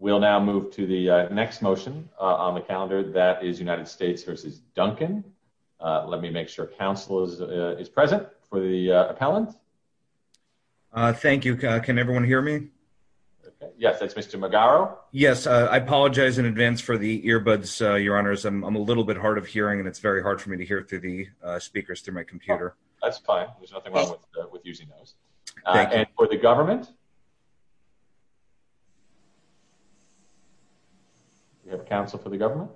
We'll now move to the next motion on the calendar that is United States versus Duncan. Let me make sure council is present for the appellant. Thank you, can everyone hear me? Yes, that's Mr. Magaro. Yes, I apologize in advance for the earbuds, your honors. I'm a little bit hard of hearing and it's very hard for me to hear through the speakers through my computer. That's fine, there's nothing wrong with using those. And for the government? We have counsel for the government?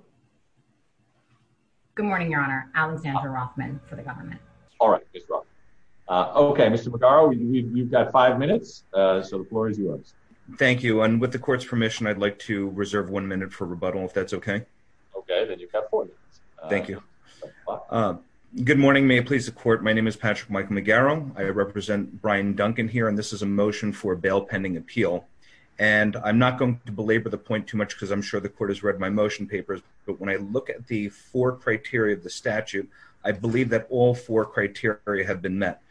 Good morning, your honor. Alexandra Rothman for the government. All right. Okay, Mr. Magaro, you've got five minutes, so the floor is yours. Thank you, and with the court's permission, I'd like to reserve one minute for rebuttal, if that's okay. Okay, then you've got four minutes. Thank you. Good morning, may it please the court. My name is Patrick Michael Magaro. I represent Brian Duncan here, and this is a motion for bail pending appeal. And I'm not going to belabor the point too much because I'm sure the court has read my motion papers. But when I look at the four criteria of the statute, I believe that all four criteria have been met.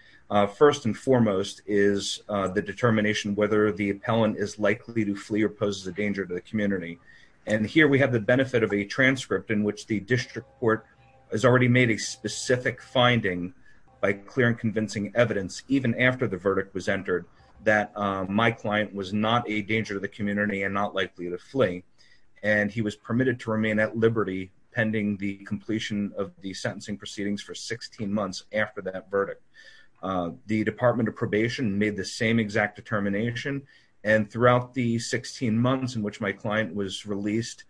First and foremost is the determination whether the appellant is likely to flee or poses a danger to the community. And here we have the benefit of a transcript in which the district court has already made a specific finding by clear and convincing evidence, even after the verdict was entered, that my client was not a danger to the community and not likely to flee. And he was permitted to remain at liberty pending the completion of the sentencing proceedings for 16 months after that verdict. The Department of Probation made the same exact determination. And throughout the 16 months in which my client was released,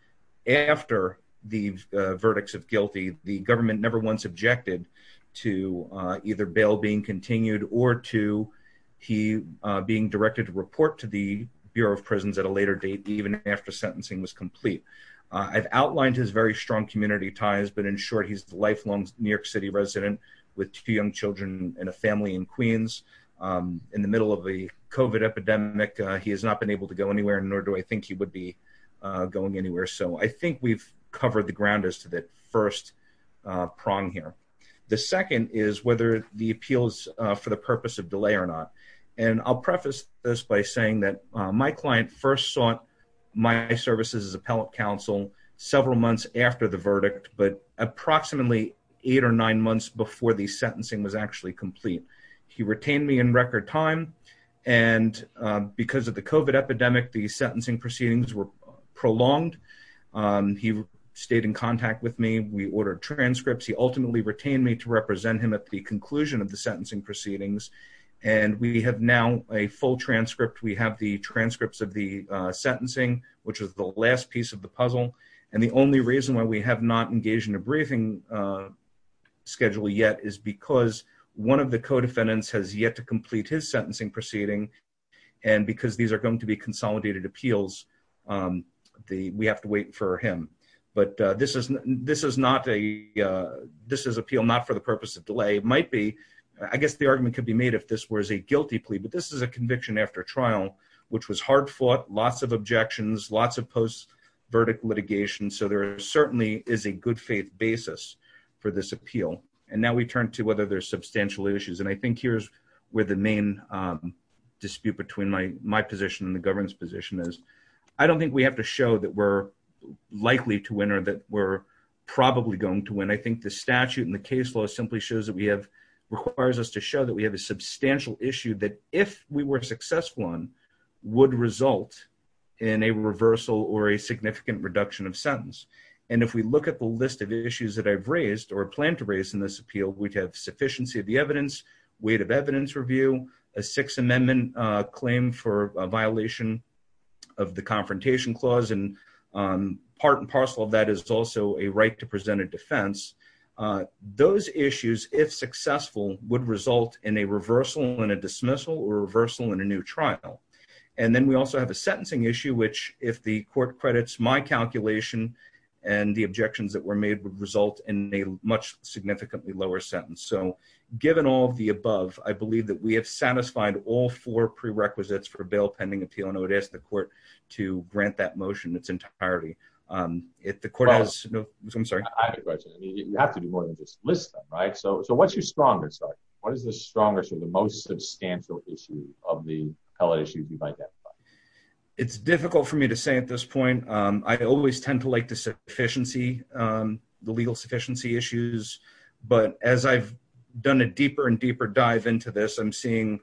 after the verdicts of guilty, the government never once objected to either bail being continued or to he being directed to report to the Bureau of Prisons at a later date, even after sentencing was complete. I've outlined his very strong community ties, but in short, he's lifelong New York City resident with two young children and a family in Queens. In the middle of the COVID epidemic, he has not been able to go anywhere, nor do I think he would be going anywhere. So I think we've covered the ground as to that first prong here. The second is whether the appeals for the purpose of delay or not. And I'll preface this by saying that my client first sought my services as appellate counsel several months after the verdict, but approximately eight or nine months before the sentencing was actually complete. He retained me record time. And because of the COVID epidemic, the sentencing proceedings were prolonged. He stayed in contact with me. We ordered transcripts. He ultimately retained me to represent him at the conclusion of the sentencing proceedings. And we have now a full transcript. We have the transcripts of the sentencing, which was the last piece of the puzzle. And the only reason why we have not engaged in a briefing schedule yet is because one of the co-defendants has yet to complete his sentencing proceeding. And because these are going to be consolidated appeals, we have to wait for him. But this is appeal not for the purpose of delay. It might be, I guess the argument could be made if this was a guilty plea, but this is a conviction after trial, which was basis for this appeal. And now we turn to whether there's substantial issues. And I think here's where the main dispute between my position and the government's position is, I don't think we have to show that we're likely to win or that we're probably going to win. I think the statute and the case law simply shows that we have requires us to show that we have a substantial issue that if we were successful on would result in a reversal or a significant reduction of sentence. And if we look at the list of issues that I've raised or plan to raise in this appeal, we'd have sufficiency of the evidence, weight of evidence review, a sixth amendment claim for a violation of the confrontation clause, and part and parcel of that is also a right to present a defense. Those issues, if successful, would result in a reversal and a dismissal or reversal in a trial. And then we also have a sentencing issue, which if the court credits my calculation and the objections that were made would result in a much significantly lower sentence. So given all the above, I believe that we have satisfied all four prerequisites for a bail pending appeal. And I would ask the court to grant that motion its entirety. If the court has no, I'm sorry. I have a question. I mean, you have to do more than just list them, right? So what's your what is the strongest or the most substantial issue of the appellate issues you've identified? It's difficult for me to say at this point. I always tend to like the sufficiency, the legal sufficiency issues. But as I've done a deeper and deeper dive into this, I'm seeing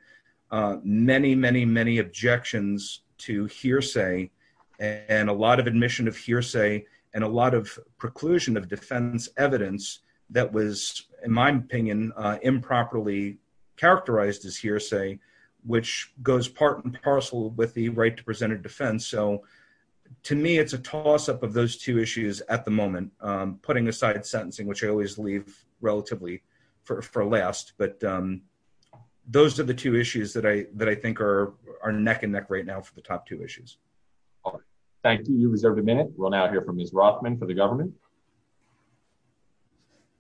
many, many, many objections to hearsay and a lot of admission of hearsay and a lot of inclusion of defense evidence that was, in my opinion, improperly characterized as hearsay, which goes part and parcel with the right to present a defense. So to me, it's a toss up of those two issues at the moment, putting aside sentencing, which I always leave relatively for last. But those are the two issues that I that I think are neck and neck right now for the top two issues. All right. Thank you. You reserved a minute. We'll now hear from Ms. Rothman for the government.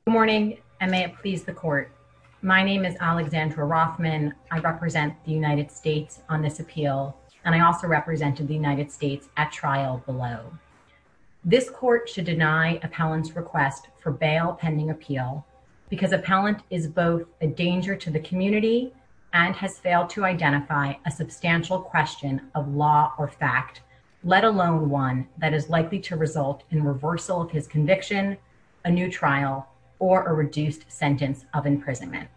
Good morning, and may it please the court. My name is Alexandra Rothman. I represent the United States on this appeal, and I also represented the United States at trial below. This court should deny appellants request for bail pending appeal because appellant is both a danger to the community and has failed to identify a substantial question of law or fact, let alone one that is likely to result in reversal of his conviction, a new trial or a reduced sentence of imprisonment.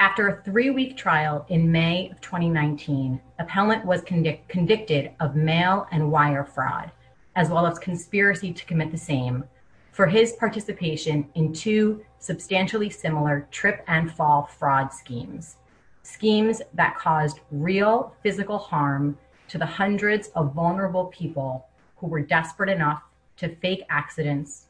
After a three week trial in May of 2019, appellant was convicted of mail and wire fraud, as well as conspiracy to commit the same for his participation in two substantially similar trip and fall fraud schemes, schemes that caused real physical harm to the hundreds of vulnerable people who were desperate enough to fake accidents,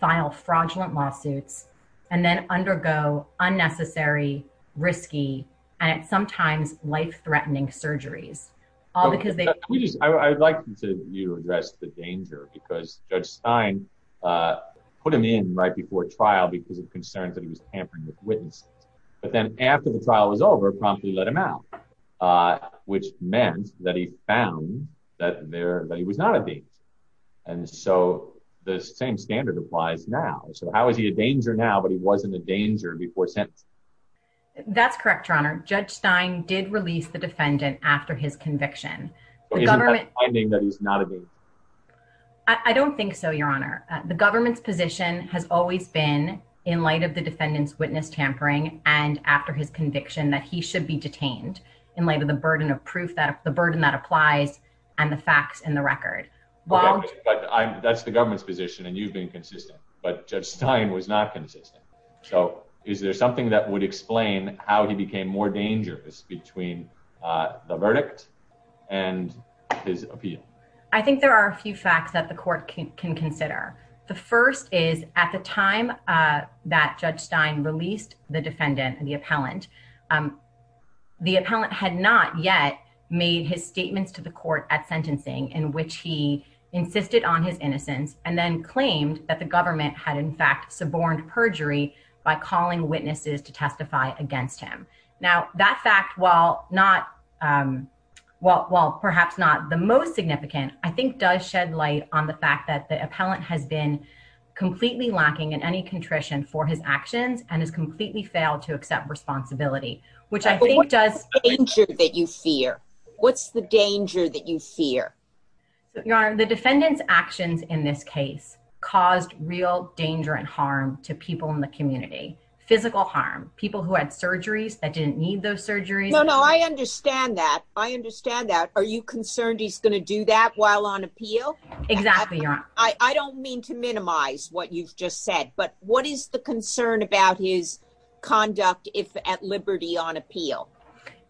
file fraudulent lawsuits, and then undergo unnecessary, risky, and sometimes life threatening surgeries, all because they just I would like to you address the danger because Judge Stein put him in right before trial because of concerns that he was over promptly let him out, which meant that he found that there that he was not a date. And so the same standard applies now. So how is he a danger now, but he wasn't a danger before sentence? That's correct. Your Honor, Judge Stein did release the defendant after his conviction. I don't think so. Your Honor, the government's position has always been in light of the conviction that he should be detained in light of the burden of proof that the burden that applies and the facts in the record. But that's the government's position and you've been consistent, but Judge Stein was not consistent. So is there something that would explain how he became more dangerous between the verdict and his appeal? I think there are a few facts that the court can consider. The first is at the time that Judge Stein released the defendant and the appellant, the appellant had not yet made his statements to the court at sentencing in which he insisted on his innocence and then claimed that the government had in fact suborned perjury by calling witnesses to testify against him. Now that fact, while perhaps not the most significant, I think does shed light on the fact that the appellant has been completely lacking in any contrition for his actions and has completely failed to accept responsibility. What's the danger that you fear? Your Honor, the defendant's actions in this case caused real danger and harm to people in the community. Physical harm, people who had surgeries that didn't need those surgeries. No, no, I understand that. I understand that. Are you concerned he's going to do that while on appeal? Exactly, Your Honor. I don't mean to minimize what you've just said, but what is the concern about his conduct if at liberty on appeal?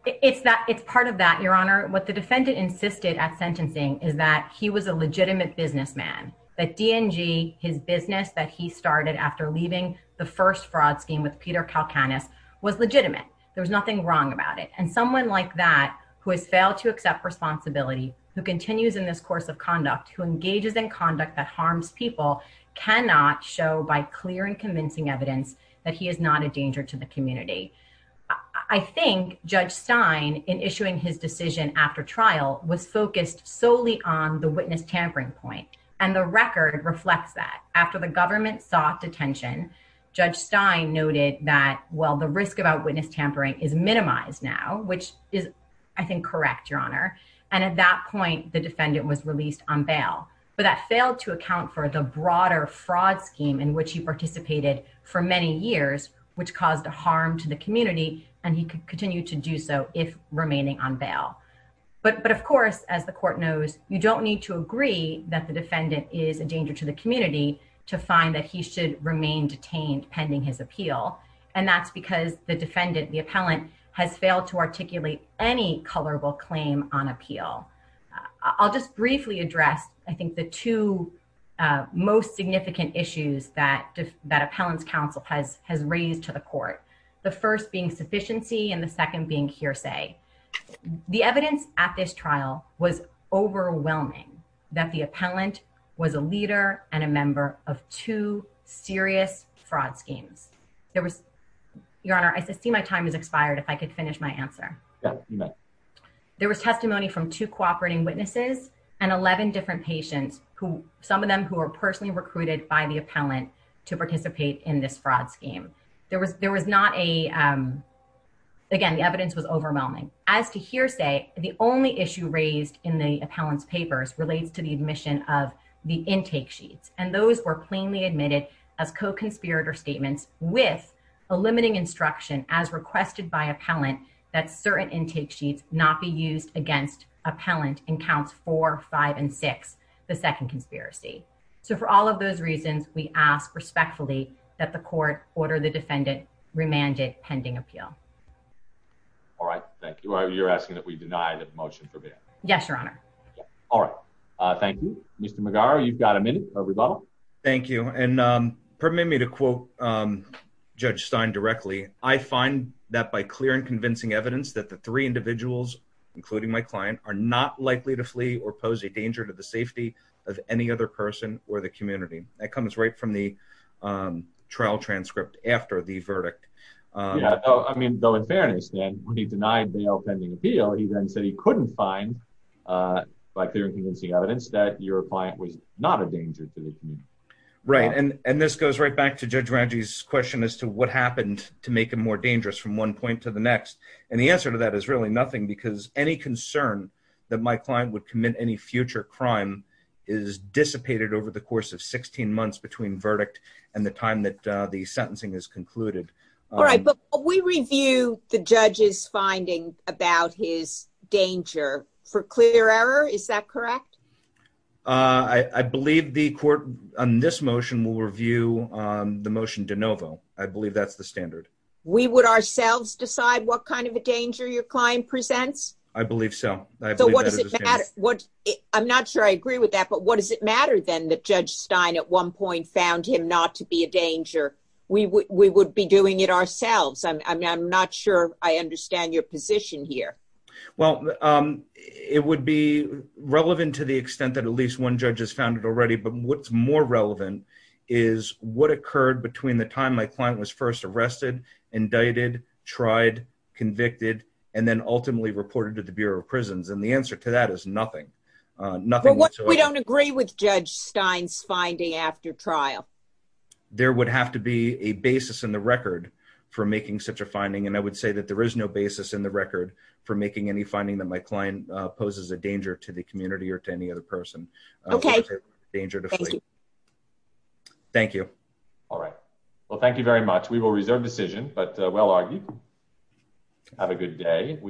It's that it's part of that, Your Honor. What the defendant insisted at sentencing is that he was a legitimate businessman, that DNG, his business that he started after leaving the first fraud scheme with Peter Kalkanis was legitimate. There was nothing wrong about it. And someone like that who has failed to accept responsibility, who continues in this course of conduct, who engages in conduct that harms people, cannot show by clear and convincing evidence that he is not a danger to the community. I think Judge Stein, in issuing his decision after trial, was focused solely on the witness tampering point. And the record reflects that. After the government sought detention, Judge Stein noted that, well, the risk about witness tampering is minimized now, which is, I think, correct, Your Honor. And at that point, the defendant was released on bail. But that failed to account for the broader fraud scheme in which he participated for many years, which caused harm to the community, and he could continue to do so if remaining on bail. But of course, as the court knows, you don't need to agree that the defendant is a danger to the community to find that he should remain detained pending his appeal. And that's because the defendant, the appellant, has failed to articulate any colorable claim on appeal. I'll just briefly address, I think, the two most significant issues that Appellant's Counsel has raised to the court, the first being sufficiency and the second being hearsay. The evidence at this trial was overwhelming that the appellant was a leader and a member of two serious fraud schemes. There was, Your Honor, I see my time has expired, if I could finish my answer. There was testimony from two cooperating witnesses and 11 different patients, some of them who were personally recruited by the appellant to participate in this fraud scheme. There was not a, again, the evidence was overwhelming. As to hearsay, the only issue raised in the appellant's papers relates to the admission of the intake sheets, and those were plainly admitted as co-conspirator statements with a limiting instruction, as requested by appellant, that certain intake sheets not be used against appellant in counts four, five, and six, the second conspiracy. So for all of those reasons, we ask respectfully that the court order the defendant remanded pending appeal. All right, thank you. You're asking that we deny the motion for bail? Yes, Your Honor. All right, thank you. Mr. McGarr, you've got a minute. Thank you, and permit me to quote Judge Stein directly. I find that by clear and convincing evidence that the three individuals, including my client, are not likely to flee or pose a danger to the safety of any other person or the community. That comes right from the trial transcript after the verdict. Yeah, I mean, though in fairness, when he denied bail pending appeal, he then said he couldn't find by clear and convincing evidence that your client was not a danger to the community. Right, and this goes right back to Judge Ranji's question as to what happened to make him more dangerous from one point to the next, and the answer to that is really nothing because any concern that my client would commit any future crime is dissipated over the course of 16 months between verdict and the time that the sentencing is concluded. All right, but we review the judge's about his danger for clear error, is that correct? I believe the court on this motion will review the motion de novo. I believe that's the standard. We would ourselves decide what kind of a danger your client presents? I believe so. So what does it matter? I'm not sure I agree with that, but what does it matter then that Judge Stein at one point found him not to be a danger? We would be doing it ourselves. I'm not sure I understand your position here. Well, it would be relevant to the extent that at least one judge has found it already, but what's more relevant is what occurred between the time my client was first arrested, indicted, tried, convicted, and then ultimately reported to the Bureau of Prisons, and the answer to that is nothing, nothing. We don't agree with for making such a finding, and I would say that there is no basis in the record for making any finding that my client poses a danger to the community or to any other person. Okay. Thank you. All right. Well, thank you very much. We will reserve decision, but well argued. Have a good day.